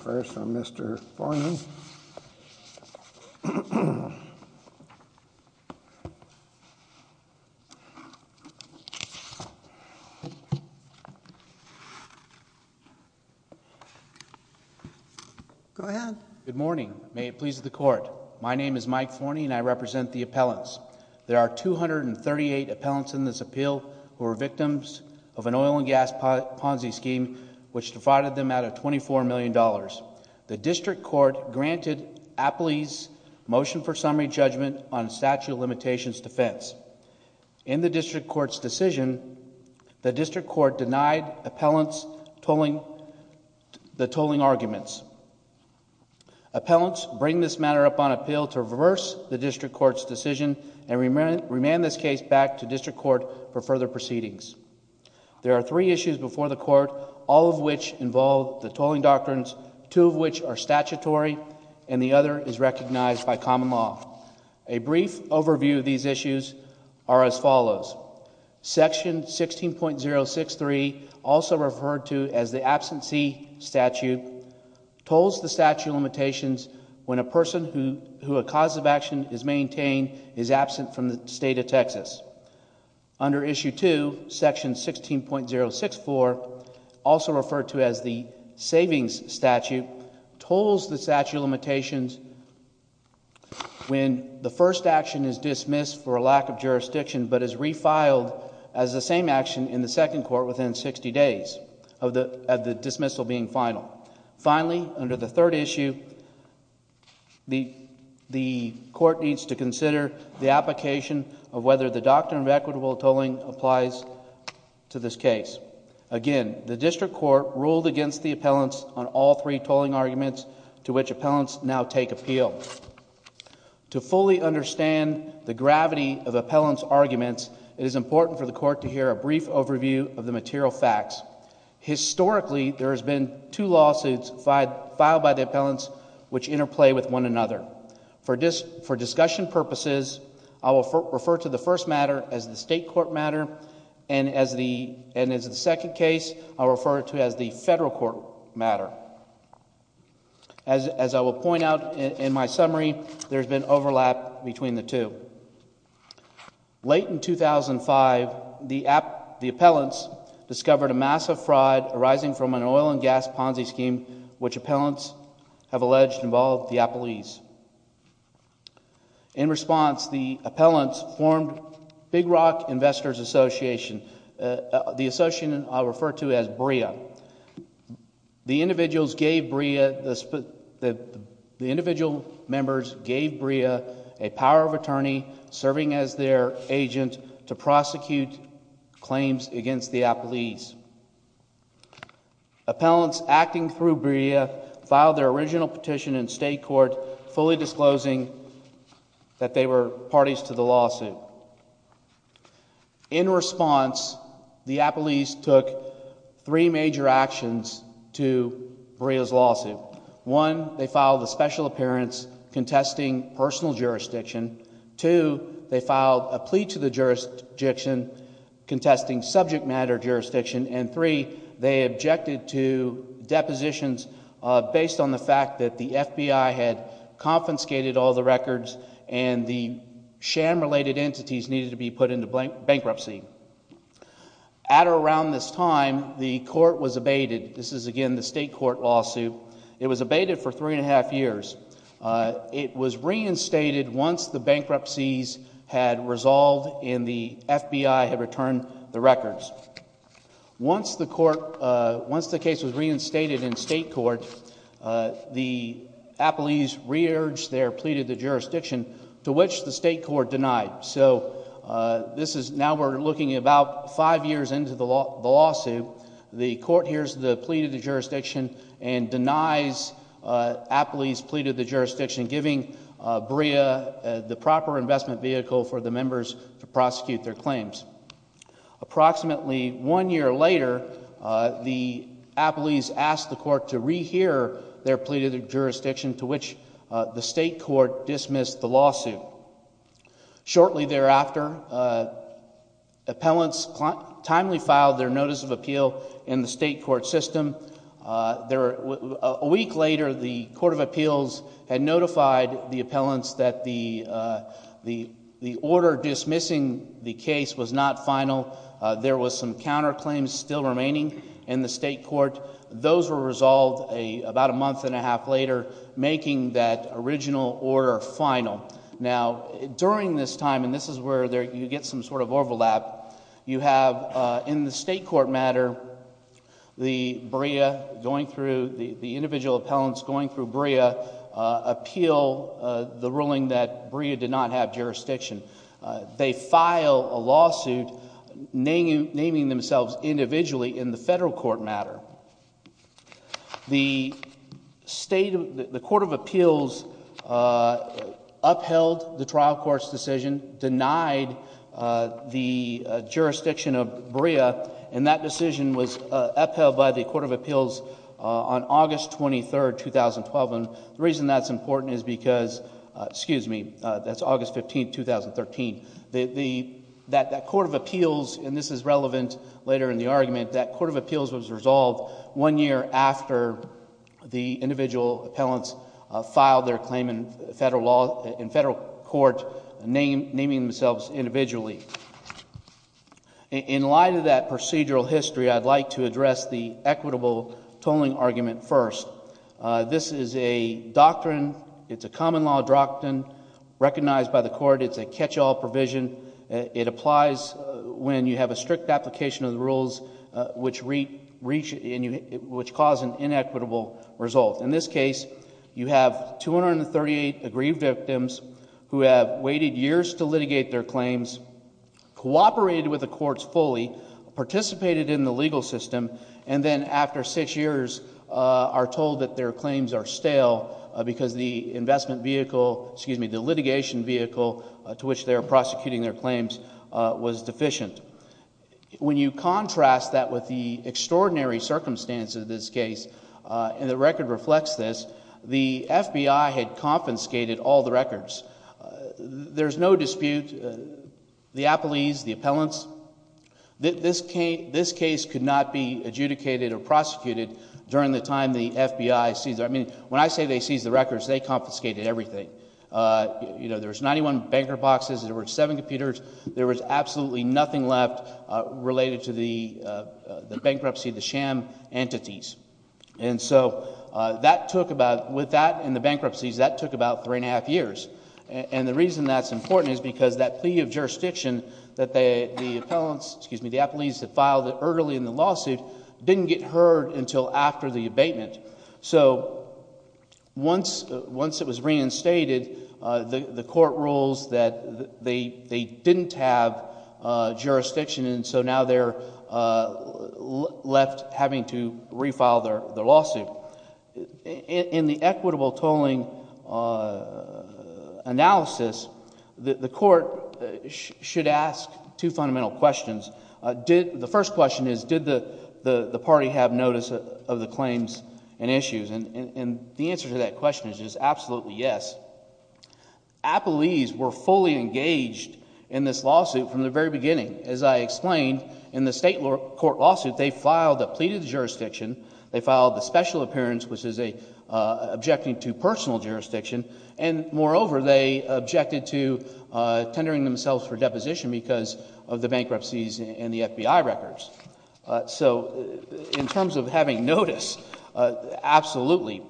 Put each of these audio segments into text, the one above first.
First, Mr. Forney. Go ahead. Good morning. May it please the court. My name is Mike Forney and I represent the appellants. There are 238 appellants in this appeal who are victims of an oil and gas Ponzi scheme which defrauded them out of $24 million. The district court granted appellees motion for summary judgment on a statute of limitations defense. In the district court's decision, the district court denied appellants the tolling arguments. Appellants bring this matter up on appeal to reverse the district court's decision and remand this case back to district court for further proceedings. There are three issues before the court, all of which involve the tolling doctrines, two of which are statutory and the other is recognized by common law. A brief overview of these issues are as follows. Section 16.063, also referred to as the absentee statute, tolls the statute of limitations when a person who a cause of action is maintained is absent from the state of Texas. Under issue two, section 16.064, also referred to as the savings statute, tolls the statute of limitations when the first action is dismissed for a lack of jurisdiction but is refiled as the same action in the second court within 60 days of the dismissal being final. Finally, under the third issue, the court needs to consider the application of whether the doctrine of equitable tolling applies to this case. Again, the district court ruled against the appellants on all three tolling arguments to which appellants now take appeal. To fully understand the gravity of appellants' arguments, it is important for the court to hear a brief overview of the material facts. Historically, there has been two lawsuits filed by the appellants which interplay with one another. For discussion purposes, I will refer to the first matter as the state court matter, and as the second case, I will refer to it as the federal court matter. As I will point out in my summary, there has been overlap between the two. Late in 2005, the appellants discovered a massive fraud arising from an oil and gas Ponzi scheme which appellants have alleged involved the appellees. In response, the appellants formed Big Rock Investors Association, the association I will refer to as BRIA. The individual members gave BRIA a power of attorney serving as their agent to prosecute claims against the appellees. Appellants acting through BRIA filed their original petition in state court fully disclosing that they were parties to the lawsuit. In response, the appellees took three major actions to BRIA's lawsuit. One, they filed a special appearance contesting personal jurisdiction. Two, they filed a plea to the jurisdiction contesting subject matter jurisdiction. And three, they objected to depositions based on the fact that the FBI had confiscated all the records and the sham related entities needed to be put into bankruptcy. At or around this time, the court was abated. This is again the state court lawsuit. It was abated for three and a half years. It was reinstated once the bankruptcies had resolved and the FBI had returned the records. Once the court, once the case was reinstated in state court, the appellees re-urged their plea to the jurisdiction to which the state court denied. So this is, now we're looking about five years into the lawsuit. The court hears the plea to the jurisdiction and denies appellees' plea to the jurisdiction, giving BRIA the proper investment vehicle for the members to prosecute their claims. Approximately one year later, the appellees asked the court to rehear their plea to the jurisdiction to which the state court dismissed the lawsuit. Shortly thereafter, appellants timely filed their notice of appeal in the state court system. A week later, the court of appeals had notified the appellants that the order dismissing the case was not final. There was some counterclaims still remaining in the state court. Those were resolved about a month and a half later, making that original order final. Now, during this time, and this is where you get some sort of overlap, you have in the state court matter, the BRIA going through, the individual appellants going through BRIA appeal the ruling that BRIA did not have jurisdiction. They file a lawsuit naming themselves individually in the federal court matter. The state, the court of appeals upheld the trial court's decision, denied the jurisdiction of BRIA, and that decision was upheld by the court of appeals on August 23, 2012. And the reason that's important is because, excuse me, that's August 15, 2013. That court of appeals, and this is relevant later in the argument, that court of appeals was resolved one year after the individual appellants filed their claim in federal court, naming themselves individually. In light of that procedural history, I'd like to address the equitable tolling argument first. This is a doctrine. It's a common law doctrine recognized by the court. It's a catch-all provision. It applies when you have a strict application of the rules which cause an inequitable result. In this case, you have 238 aggrieved victims who have waited years to litigate their claims, cooperated with the courts fully, participated in the legal system, and then after six years are told that their claims are stale because the investment vehicle, excuse me, the litigation vehicle to which they are prosecuting their claims was deficient. When you contrast that with the extraordinary circumstances of this case, and the record reflects this, the FBI had confiscated all the records. There's no dispute. The appellees, the appellants, this case could not be adjudicated or prosecuted during the time the FBI seized it. I mean, when I say they seized the records, they confiscated everything. You know, there was 91 banker boxes. There were seven computers. There was absolutely nothing left related to the bankruptcy, the sham entities. And so that took about, with that and the bankruptcies, that took about three and a half years. And the reason that's important is because that plea of jurisdiction that the appellants, excuse me, the appellees that filed it early in the lawsuit didn't get heard until after the abatement. So once it was reinstated, the court rules that they didn't have jurisdiction, and so now they're left having to refile their lawsuit. In the equitable tolling analysis, the court should ask two fundamental questions. The first question is, did the party have notice of the claims and issues? And the answer to that question is just absolutely yes. Appellees were fully engaged in this lawsuit from the very beginning. As I explained, in the state court lawsuit, they filed a plea to the jurisdiction. They filed the special appearance, which is objecting to personal jurisdiction. And moreover, they objected to tendering themselves for deposition because of the bankruptcies and the FBI records. So in terms of having notice, absolutely.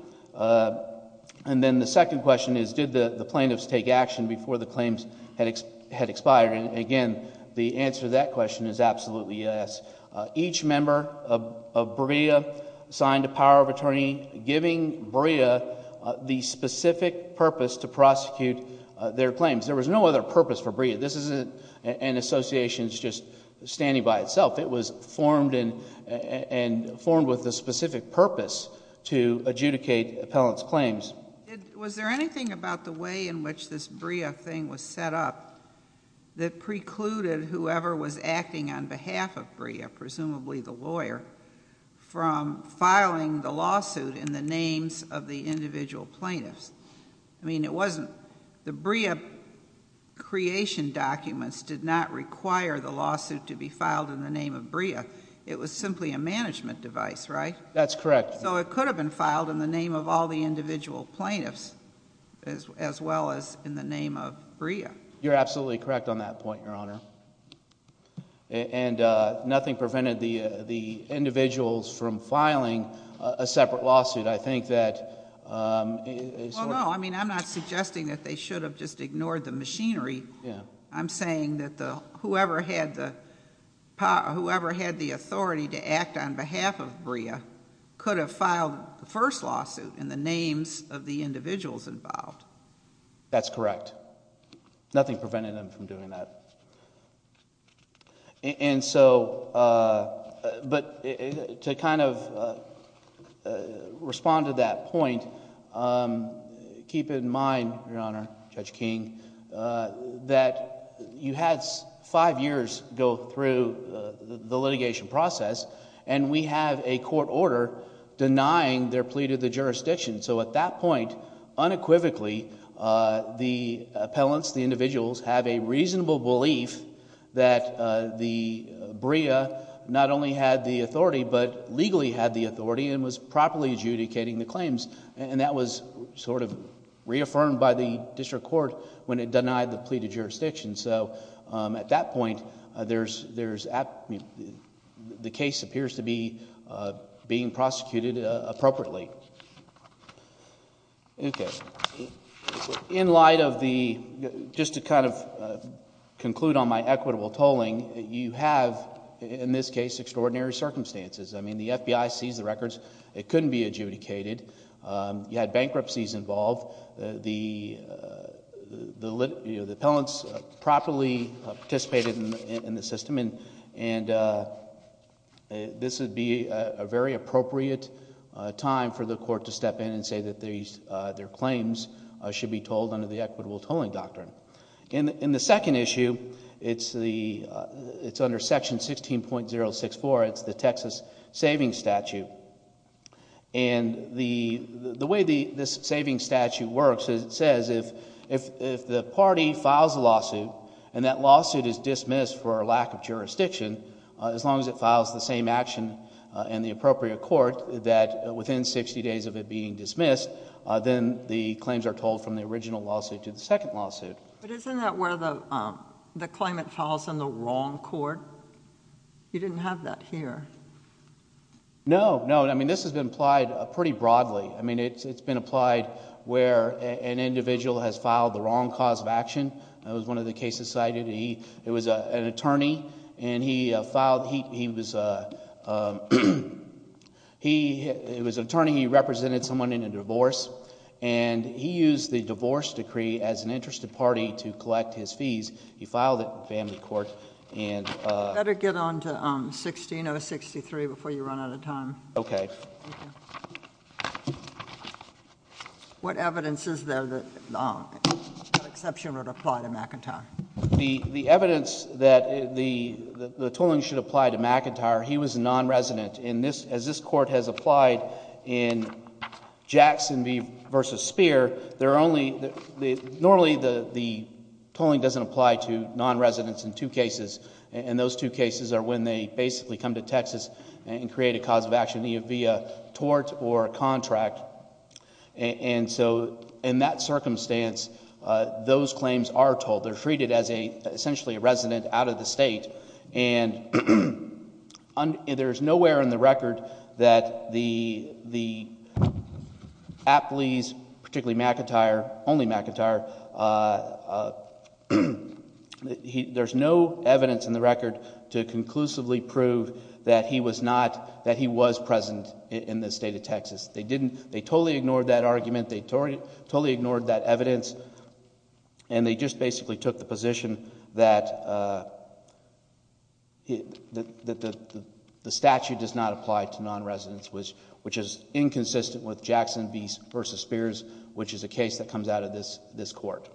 And then the second question is, did the plaintiffs take action before the claims had expired? And again, the answer to that question is absolutely yes. Each member of BREA signed a power of attorney giving BREA the specific purpose to prosecute their claims. There was no other purpose for BREA. This isn't an association that's just standing by itself. It was formed with a specific purpose to adjudicate appellant's claims. Was there anything about the way in which this BREA thing was set up that precluded whoever was acting on behalf of BREA, presumably the lawyer, from filing the lawsuit in the names of the individual plaintiffs? I mean, it wasn't the BREA creation documents did not require the lawsuit to be filed in the name of BREA. It was simply a management device, right? That's correct. So it could have been filed in the name of all the individual plaintiffs as well as in the name of BREA. You're absolutely correct on that point, Your Honor. And nothing prevented the individuals from filing a separate lawsuit. I think that sort of— Well, no. I mean I'm not suggesting that they should have just ignored the machinery. Yeah. I'm saying that whoever had the authority to act on behalf of BREA could have filed the first lawsuit in the names of the individuals involved. That's correct. Nothing prevented them from doing that. And so—but to kind of respond to that point, keep in mind, Your Honor, Judge King, that you had five years go through the litigation process, and we have a court order denying their plea to the jurisdiction. So at that point, unequivocally, the appellants, the individuals, have a reasonable belief that the BREA not only had the authority, but legally had the authority and was properly adjudicating the claims. And that was sort of reaffirmed by the district court when it denied the plea to jurisdiction. So at that point, there's—the case appears to be being prosecuted appropriately. Okay. In light of the—just to kind of conclude on my equitable tolling, you have, in this case, extraordinary circumstances. I mean the FBI seized the records. It couldn't be adjudicated. You had bankruptcies involved. The appellants properly participated in the system, and this would be a very appropriate time for the court to step in and say that their claims should be tolled under the equitable tolling doctrine. In the second issue, it's under Section 16.064. It's the Texas Savings Statute. And the way this savings statute works is it says if the party files a lawsuit and that lawsuit is dismissed for a lack of jurisdiction, as long as it files the same action in the appropriate court, that within 60 days of it being dismissed, then the claims are tolled from the original lawsuit to the second lawsuit. But isn't that where the claimant files in the wrong court? You didn't have that here. No, no. I mean this has been applied pretty broadly. I mean it's been applied where an individual has filed the wrong cause of action. That was one of the cases cited. It was an attorney, and he filed—he was an attorney. He represented someone in a divorce, and he used the divorce decree as an interest of party to collect his fees. He filed it in family court and— You better get on to 16.063 before you run out of time. Okay. What evidence is there that that exception would apply to McIntyre? The evidence that the tolling should apply to McIntyre, he was a nonresident. As this court has applied in Jackson v. Speer, there are only— Most of the cases are when they basically come to Texas and create a cause of action, either via tort or a contract. And so in that circumstance, those claims are tolled. They're treated as essentially a resident out of the state. And there's nowhere in the record that the Apleys, particularly McIntyre, only McIntyre, there's no evidence in the record to conclusively prove that he was not—that he was present in the state of Texas. They didn't—they totally ignored that argument. They totally ignored that evidence, and they just basically took the position that the statute does not apply to nonresidents, which is inconsistent with Jackson v. Speers, which is a case that comes out of this court.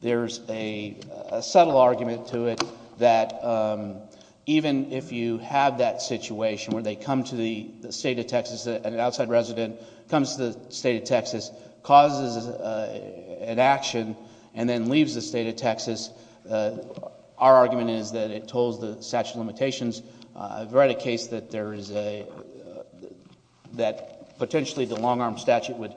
There's a subtle argument to it that even if you have that situation where they come to the state of Texas, an outside resident comes to the state of Texas, causes an action, and then leaves the state of Texas, our argument is that it tolls the statute of limitations. I've read a case that there is a—that potentially the long-arm statute would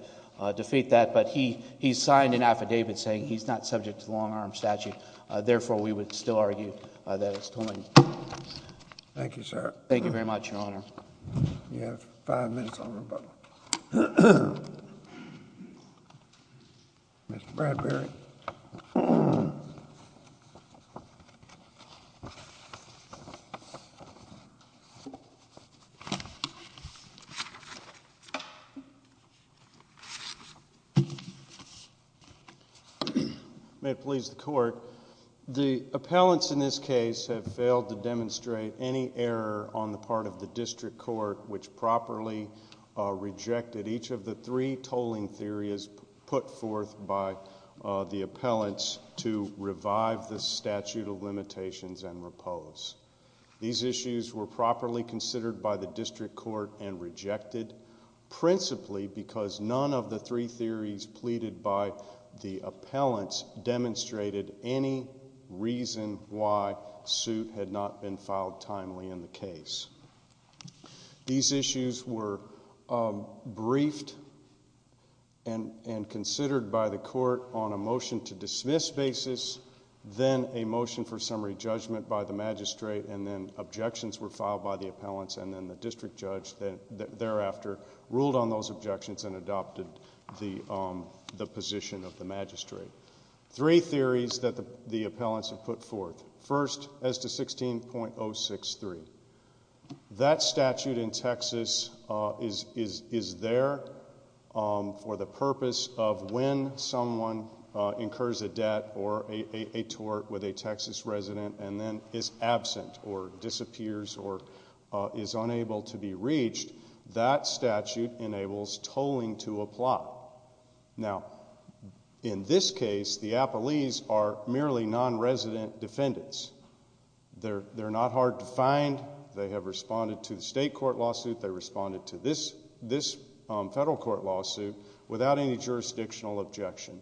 defeat that, but he signed an affidavit saying he's not subject to the long-arm statute. Therefore, we would still argue that it's tolling. Thank you, sir. Thank you very much, Your Honor. You have five minutes on rebuttal. Mr. Bradbury. May it please the Court. The appellants in this case have failed to demonstrate any error on the part of the district court, which properly rejected each of the three tolling theories put forth by the appellants to revive the statute of limitations and repose. These issues were properly considered by the district court and rejected, principally because none of the three theories pleaded by the appellants demonstrated any reason why suit had not been filed timely in the case. These issues were briefed and considered by the court on a motion to dismiss basis, then a motion for summary judgment by the magistrate, and then objections were filed by the appellants and then the district judge thereafter ruled on those objections and adopted the position of the magistrate. Three theories that the appellants have put forth. First, as to 16.063, that statute in Texas is there for the purpose of when someone incurs a debt or a tort with a Texas resident and then is absent or disappears or is unable to be reached, that statute enables tolling to apply. Now, in this case, the appellees are merely nonresident defendants. They're not hard to find. They have responded to the state court lawsuit. They responded to this federal court lawsuit without any jurisdictional objection.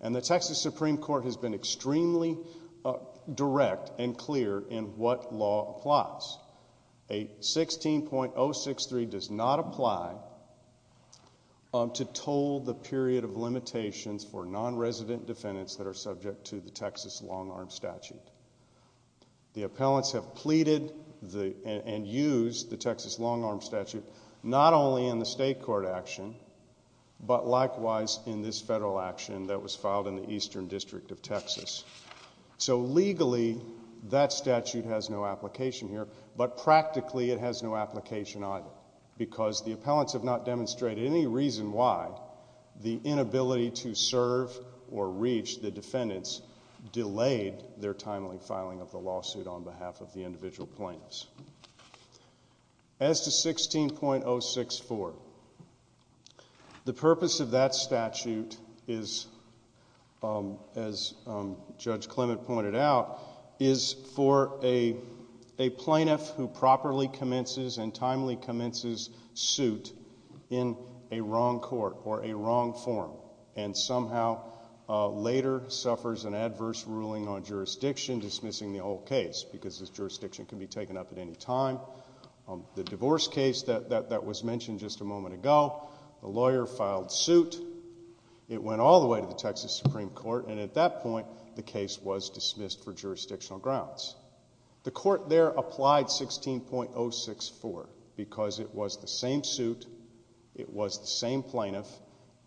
And the Texas Supreme Court has been extremely direct and clear in what law applies. 16.063 does not apply to toll the period of limitations for nonresident defendants that are subject to the Texas long-arm statute. The appellants have pleaded and used the Texas long-arm statute not only in the state court action but likewise in this federal action that was filed in the Eastern District of Texas. So legally, that statute has no application here, but practically it has no application either because the appellants have not demonstrated any reason why the inability to serve or reach the defendants delayed their timely filing of the lawsuit on behalf of the individual plaintiffs. As to 16.064, the purpose of that statute is, as Judge Clement pointed out, is for a plaintiff who properly commences and timely commences suit in a wrong court or a wrong forum and somehow later suffers an adverse ruling on jurisdiction dismissing the whole case because this jurisdiction can be taken up at any time. The divorce case that was mentioned just a moment ago, the lawyer filed suit. It went all the way to the Texas Supreme Court, and at that point the case was dismissed for jurisdictional grounds. The court there applied 16.064 because it was the same suit, it was the same plaintiff,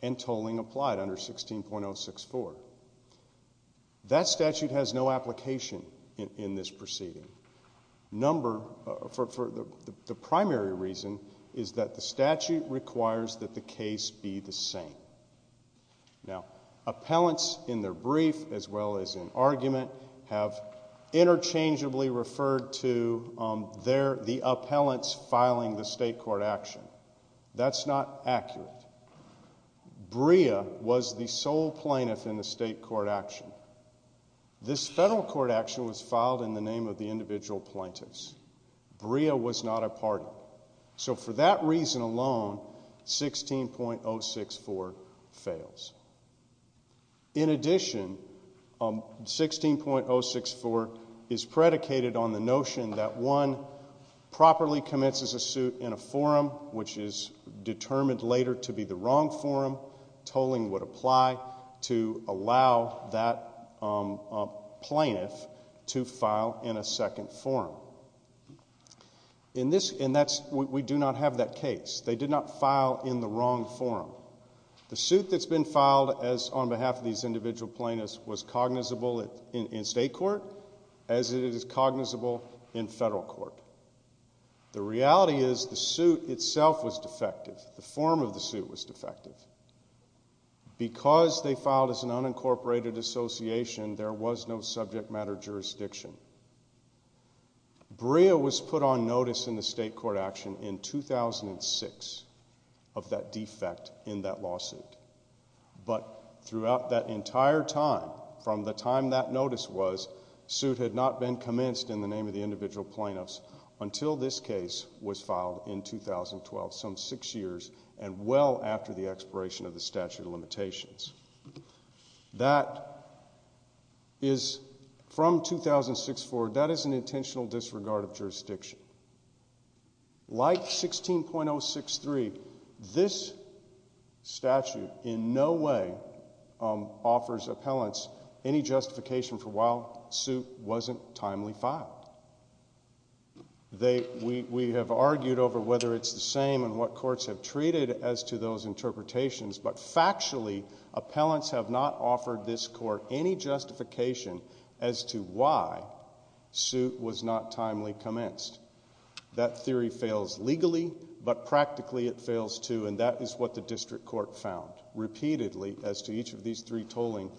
and tolling applied under 16.064. That statute has no application in this proceeding. The primary reason is that the statute requires that the case be the same. Now, appellants in their brief as well as in argument have interchangeably referred to the appellants filing the state court action. That's not accurate. Brea was the sole plaintiff in the state court action. This federal court action was filed in the name of the individual plaintiffs. Brea was not a part of it. So for that reason alone, 16.064 fails. In addition, 16.064 is predicated on the notion that one properly commences a suit in a forum which is determined later to be the wrong forum, tolling would apply to allow that plaintiff to file in a second forum. And we do not have that case. They did not file in the wrong forum. The suit that's been filed on behalf of these individual plaintiffs was cognizable in state court as it is cognizable in federal court. The reality is the suit itself was defective. The form of the suit was defective. Because they filed as an unincorporated association, there was no subject matter jurisdiction. Brea was put on notice in the state court action in 2006 of that defect in that lawsuit. But throughout that entire time, from the time that notice was, suit had not been commenced in the name of the individual plaintiffs until this case was filed in 2012, some six years and well after the expiration of the statute of limitations. That is from 2006 forward, that is an intentional disregard of jurisdiction. Like 16.063, this statute in no way offers appellants any justification for why suit wasn't timely filed. We have argued over whether it's the same and what courts have treated as to those interpretations, but factually, appellants have not offered this court any justification as to why suit was not timely commenced. That theory fails legally, but practically it fails too, and that is what the district court found. Repeatedly, as to each of these three tolling,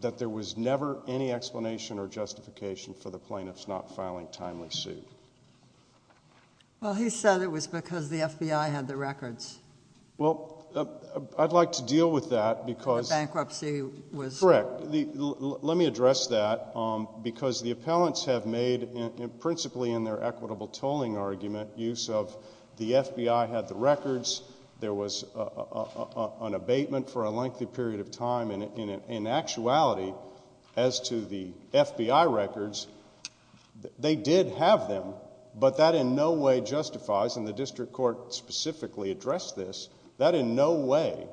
that there was never any explanation or justification for the plaintiffs not filing timely suit. Well, he said it was because the FBI had the records. Well, I'd like to deal with that because. The bankruptcy was. Correct. Let me address that, because the appellants have made, principally in their equitable tolling argument, use of the FBI had the records, there was an abatement for a lengthy period of time, and in actuality, as to the FBI records, they did have them, but that in no way justifies, and the district court specifically addressed this, that in no way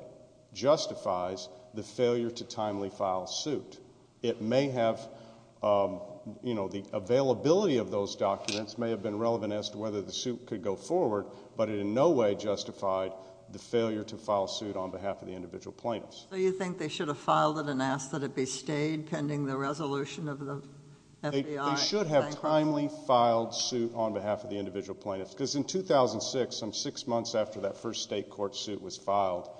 justifies the failure to timely file suit. It may have, you know, the availability of those documents may have been relevant as to whether the suit could go forward, but it in no way justified the failure to file suit on behalf of the individual plaintiffs. So you think they should have filed it and asked that it be stayed pending the resolution of the FBI? They should have timely filed suit on behalf of the individual plaintiffs, because in 2006, some six months after that first state court suit was filed,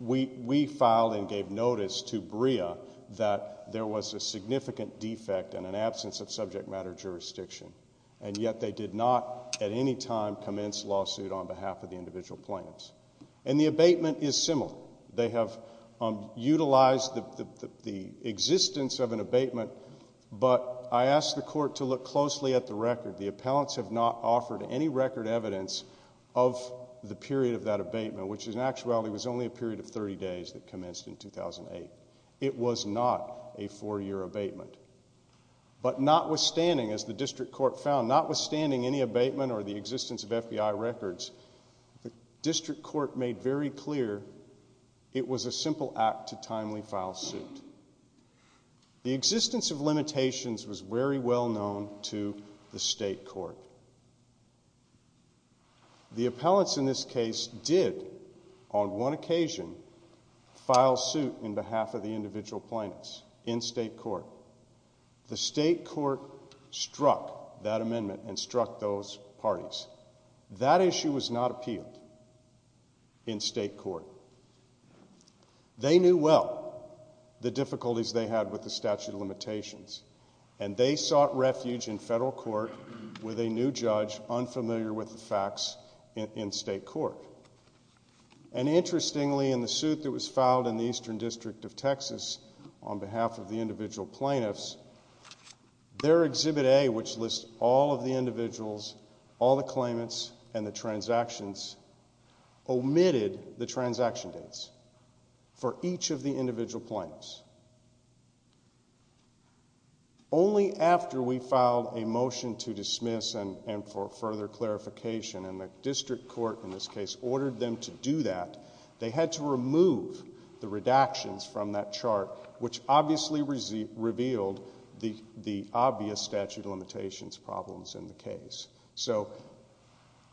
we filed and gave notice to BREA that there was a significant defect and an absence of subject matter jurisdiction, and yet they did not at any time commence lawsuit on behalf of the individual plaintiffs. And the abatement is similar. They have utilized the existence of an abatement, but I asked the court to look closely at the record. The appellants have not offered any record evidence of the period of that abatement, which in actuality was only a period of 30 days that commenced in 2008. It was not a four-year abatement. But notwithstanding, as the district court found, notwithstanding any abatement or the existence of FBI records, the district court made very clear it was a simple act to timely file suit. The existence of limitations was very well known to the state court. The appellants in this case did, on one occasion, file suit on behalf of the individual plaintiffs in state court. The state court struck that amendment and struck those parties. That issue was not appealed in state court. They knew well the difficulties they had with the statute of limitations, and they sought refuge in federal court with a new judge unfamiliar with the facts in state court. And interestingly, in the suit that was filed in the Eastern District of Texas on behalf of the individual plaintiffs, their Exhibit A, which lists all of the individuals, all the claimants, and the transactions, omitted the transaction dates for each of the individual plaintiffs. Only after we filed a motion to dismiss and for further clarification, and the district court in this case ordered them to do that, they had to remove the redactions from that chart, which obviously revealed the obvious statute of limitations problems in the case. So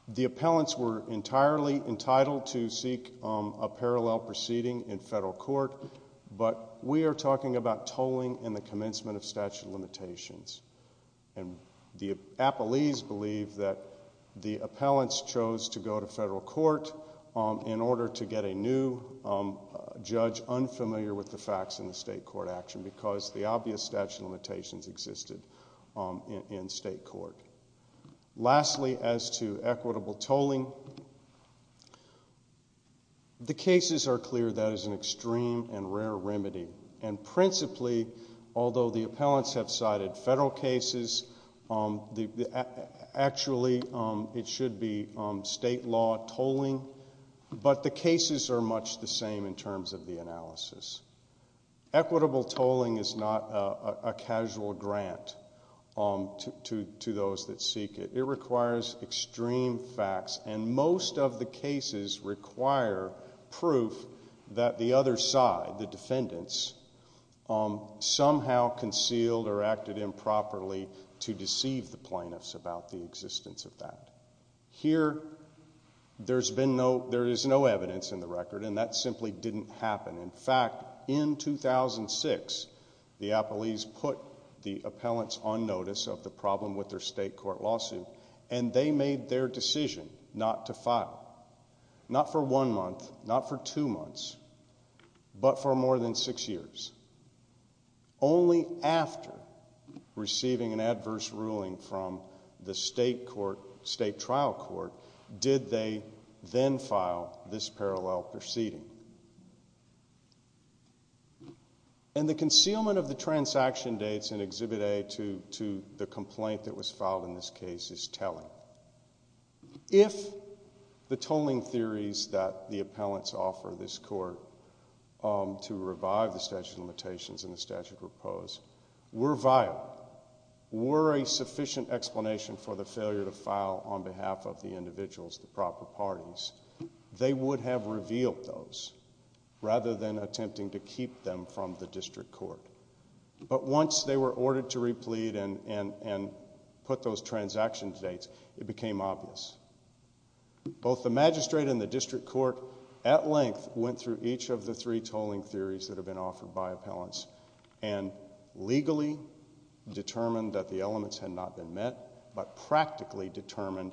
the appellants were entirely entitled to seek a parallel proceeding in federal court, but we are talking about tolling in the commencement of statute of limitations. And the appellees believe that the appellants chose to go to federal court in order to get a new judge unfamiliar with the facts in the state court action because the obvious statute of limitations existed in state court. Lastly, as to equitable tolling, the cases are clear that is an extreme and rare remedy, and principally, although the appellants have cited federal cases, actually it should be state law tolling, but the cases are much the same in terms of the analysis. Equitable tolling is not a casual grant to those that seek it. It requires extreme facts, and most of the cases require proof that the other side, the defendants, somehow concealed or acted improperly to deceive the plaintiffs about the existence of that. Here, there is no evidence in the record, and that simply didn't happen. In fact, in 2006, the appellees put the appellants on notice of the problem with their state court lawsuit, and they made their decision not to file, not for one month, not for two months, but for more than six years. Only after receiving an adverse ruling from the state trial court did they then file this parallel proceeding. And the concealment of the transaction dates in Exhibit A to the complaint that was filed in this case is telling. If the tolling theories that the appellants offer this court to revive the statute of limitations and the statute of repose were viable, were a sufficient explanation for the failure to file on behalf of the individuals, the proper parties, they would have revealed those rather than attempting to keep them from the district court. But once they were ordered to replead and put those transaction dates, it became obvious. Both the magistrate and the district court at length went through each of the three tolling theories that have been offered by appellants and legally determined that the elements had not been met, but practically determined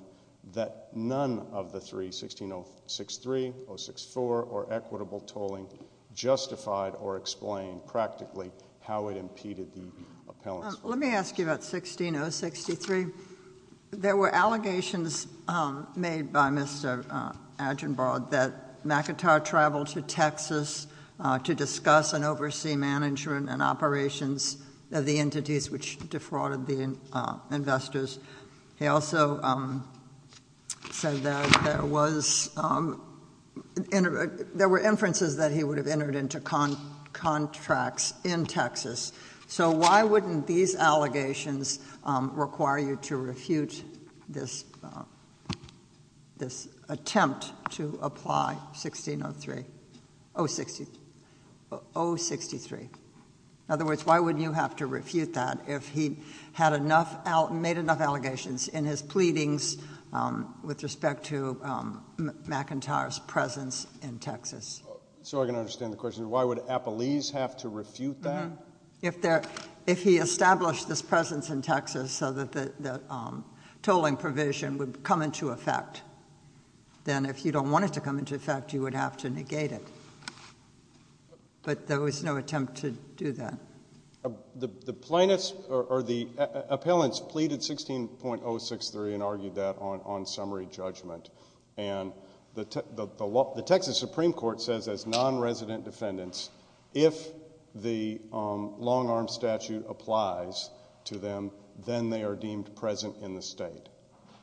that none of the three, 16063, 064, or equitable tolling justified or explained practically how it impeded the appellants. Let me ask you about 16063. There were allegations made by Mr. Aginbard that McIntyre traveled to Texas to discuss and oversee management and operations of the entities which defrauded the investors. He also said that there were inferences that he would have entered into contracts in Texas. So why wouldn't these allegations require you to refute this attempt to apply 16063? In other words, why would you have to refute that if he had enough, made enough allegations in his pleadings with respect to McIntyre's presence in Texas? So I can understand the question. Why would appellees have to refute that? If he established this presence in Texas so that the tolling provision would come into effect, then if you don't want it to come into effect, you would have to negate it. But there was no attempt to do that. The plaintiffs or the appellants pleaded 16063 and argued that on summary judgment. And the Texas Supreme Court says as non-resident defendants, if the long-arm statute applies to them, then they are deemed present in the state.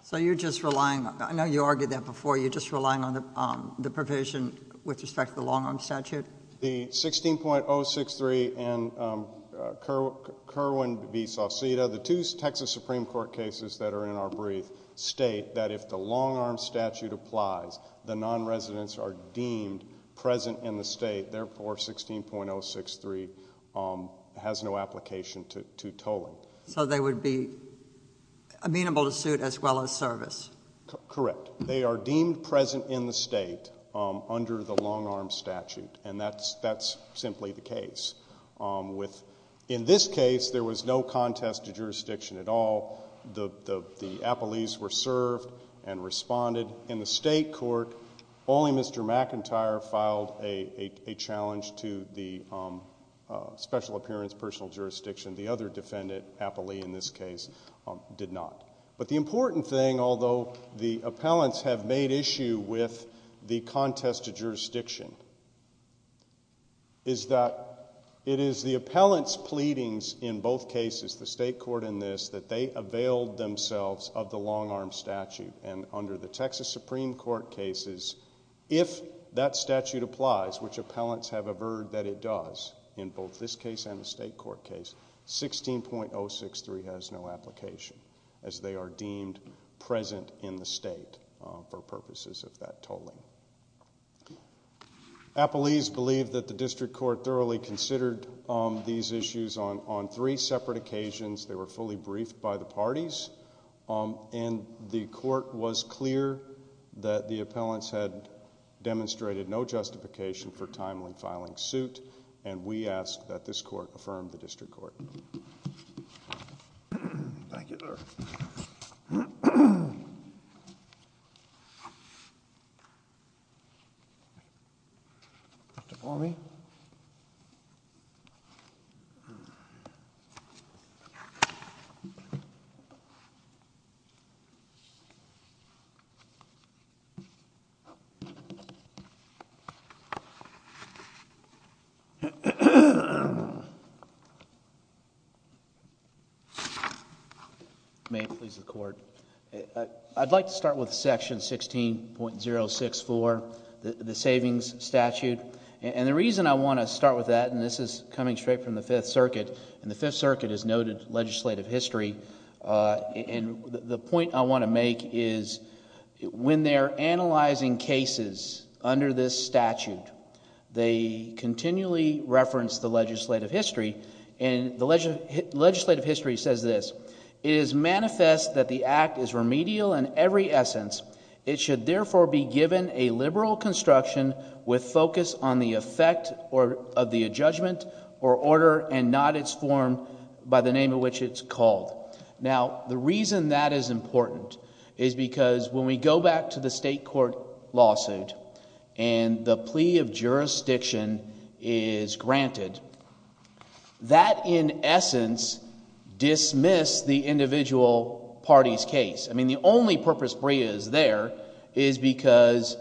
So you're just relying, I know you argued that before, you're just relying on the provision with respect to the long-arm statute? The 16.063 and Kerwin v. Sauceda, the two Texas Supreme Court cases that are in our brief, state that if the long-arm statute applies, the non-residents are deemed present in the state. Therefore, 16.063 has no application to tolling. So they would be amenable to suit as well as service? Correct. They are deemed present in the state under the long-arm statute. And that's simply the case. In this case, there was no contest to jurisdiction at all. The appellees were served and responded. In the state court, only Mr. McIntyre filed a challenge to the special appearance, personal jurisdiction. The other defendant, Applee in this case, did not. But the important thing, although the appellants have made issue with the contest to jurisdiction, is that it is the appellant's pleadings in both cases, the state court and this, that they availed themselves of the long-arm statute. And under the Texas Supreme Court cases, if that statute applies, which appellants have averred that it does in both this case and the state court case, 16.063 has no application as they are deemed present in the state for purposes of that tolling. Appelees believe that the district court thoroughly considered these issues on three separate occasions. They were fully briefed by the parties. And the court was clear that the appellants had demonstrated no justification for timely filing suit. And we ask that this court affirm the district court. Thank you, sir. Thank you. Mr. Formey. May it please the court. I'd like to start with section 16.064, the savings statute. And the reason I want to start with that, and this is coming straight from the Fifth Circuit, and the Fifth Circuit has noted legislative history, and the point I want to make is when they're analyzing cases under this statute, they continually reference the legislative history. And the legislative history says this. It is manifest that the act is remedial in every essence. It should therefore be given a liberal construction with focus on the effect of the adjudgment or order and not its form by the name of which it's called. Now, the reason that is important is because when we go back to the state court lawsuit and the plea of jurisdiction is granted, that in essence dismissed the individual party's case. I mean the only purpose Brea is there is because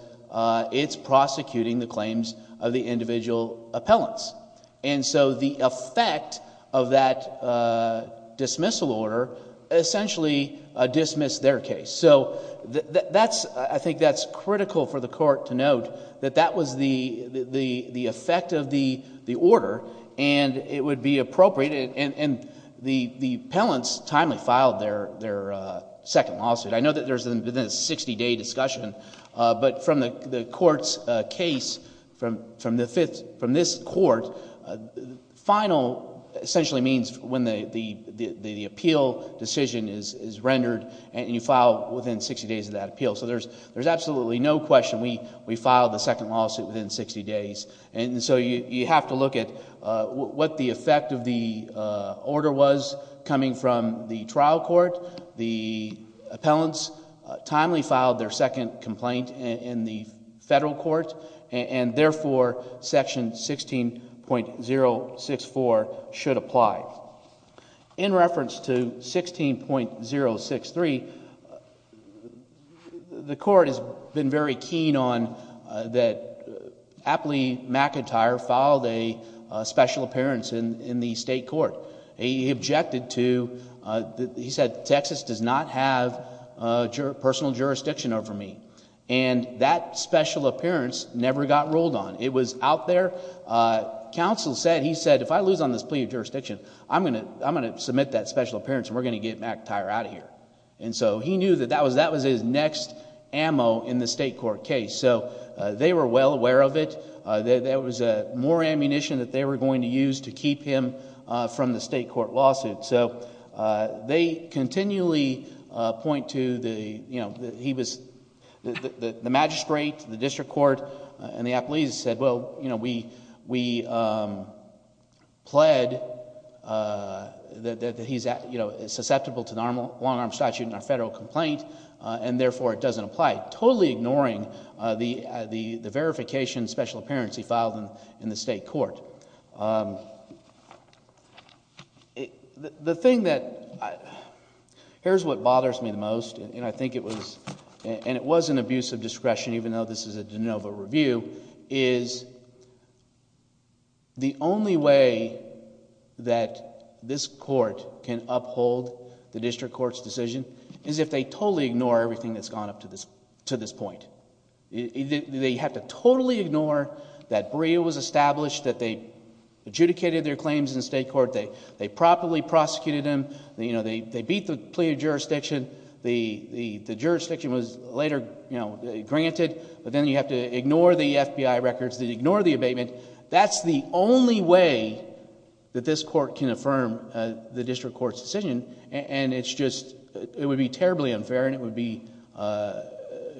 it's prosecuting the claims of the individual appellants. And so the effect of that dismissal order essentially dismissed their case. So I think that's critical for the court to note that that was the effect of the order and it would be appropriate, and the appellants timely filed their second lawsuit. I know that there's a 60-day discussion, but from the court's case, from this court, final essentially means when the appeal decision is rendered and you file within 60 days of that appeal. So there's absolutely no question we filed the second lawsuit within 60 days. And so you have to look at what the effect of the order was coming from the trial court. The appellants timely filed their second complaint in the federal court, and therefore Section 16.064 should apply. In reference to 16.063, the court has been very keen on that Apley McIntyre filed a special appearance in the state court. He objected to, he said, Texas does not have personal jurisdiction over me. And that special appearance never got ruled on. It was out there. Counsel said, he said, if I lose on this plea of jurisdiction, I'm going to submit that special appearance, and we're going to get McIntyre out of here. And so he knew that that was his next ammo in the state court case. So they were well aware of it. There was more ammunition that they were going to use to keep him from the state court lawsuit. So they continually point to the magistrate, the district court, and the appellees said, well, we pled that he's susceptible to the long-arm statute in our federal complaint, and therefore it doesn't apply, totally ignoring the verification special appearance he filed in the state court. The thing that, here's what bothers me the most, and I think it was an abuse of discretion, even though this is a de novo review, is the only way that this court can uphold the district court's decision is if they totally ignore everything that's gone up to this point. They have to totally ignore that Brea was established, that they adjudicated their claims in the state court, they properly prosecuted him, they beat the plea of jurisdiction, the jurisdiction was later granted, but then you have to ignore the FBI records, ignore the abatement. That's the only way that this court can affirm the district court's decision, and it's just, it would be terribly unfair and it would be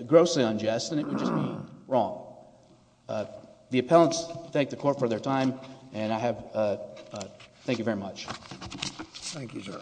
grossly unjust and it would just be wrong. The appellants thank the court for their time, and I have, thank you very much. Thank you, sir.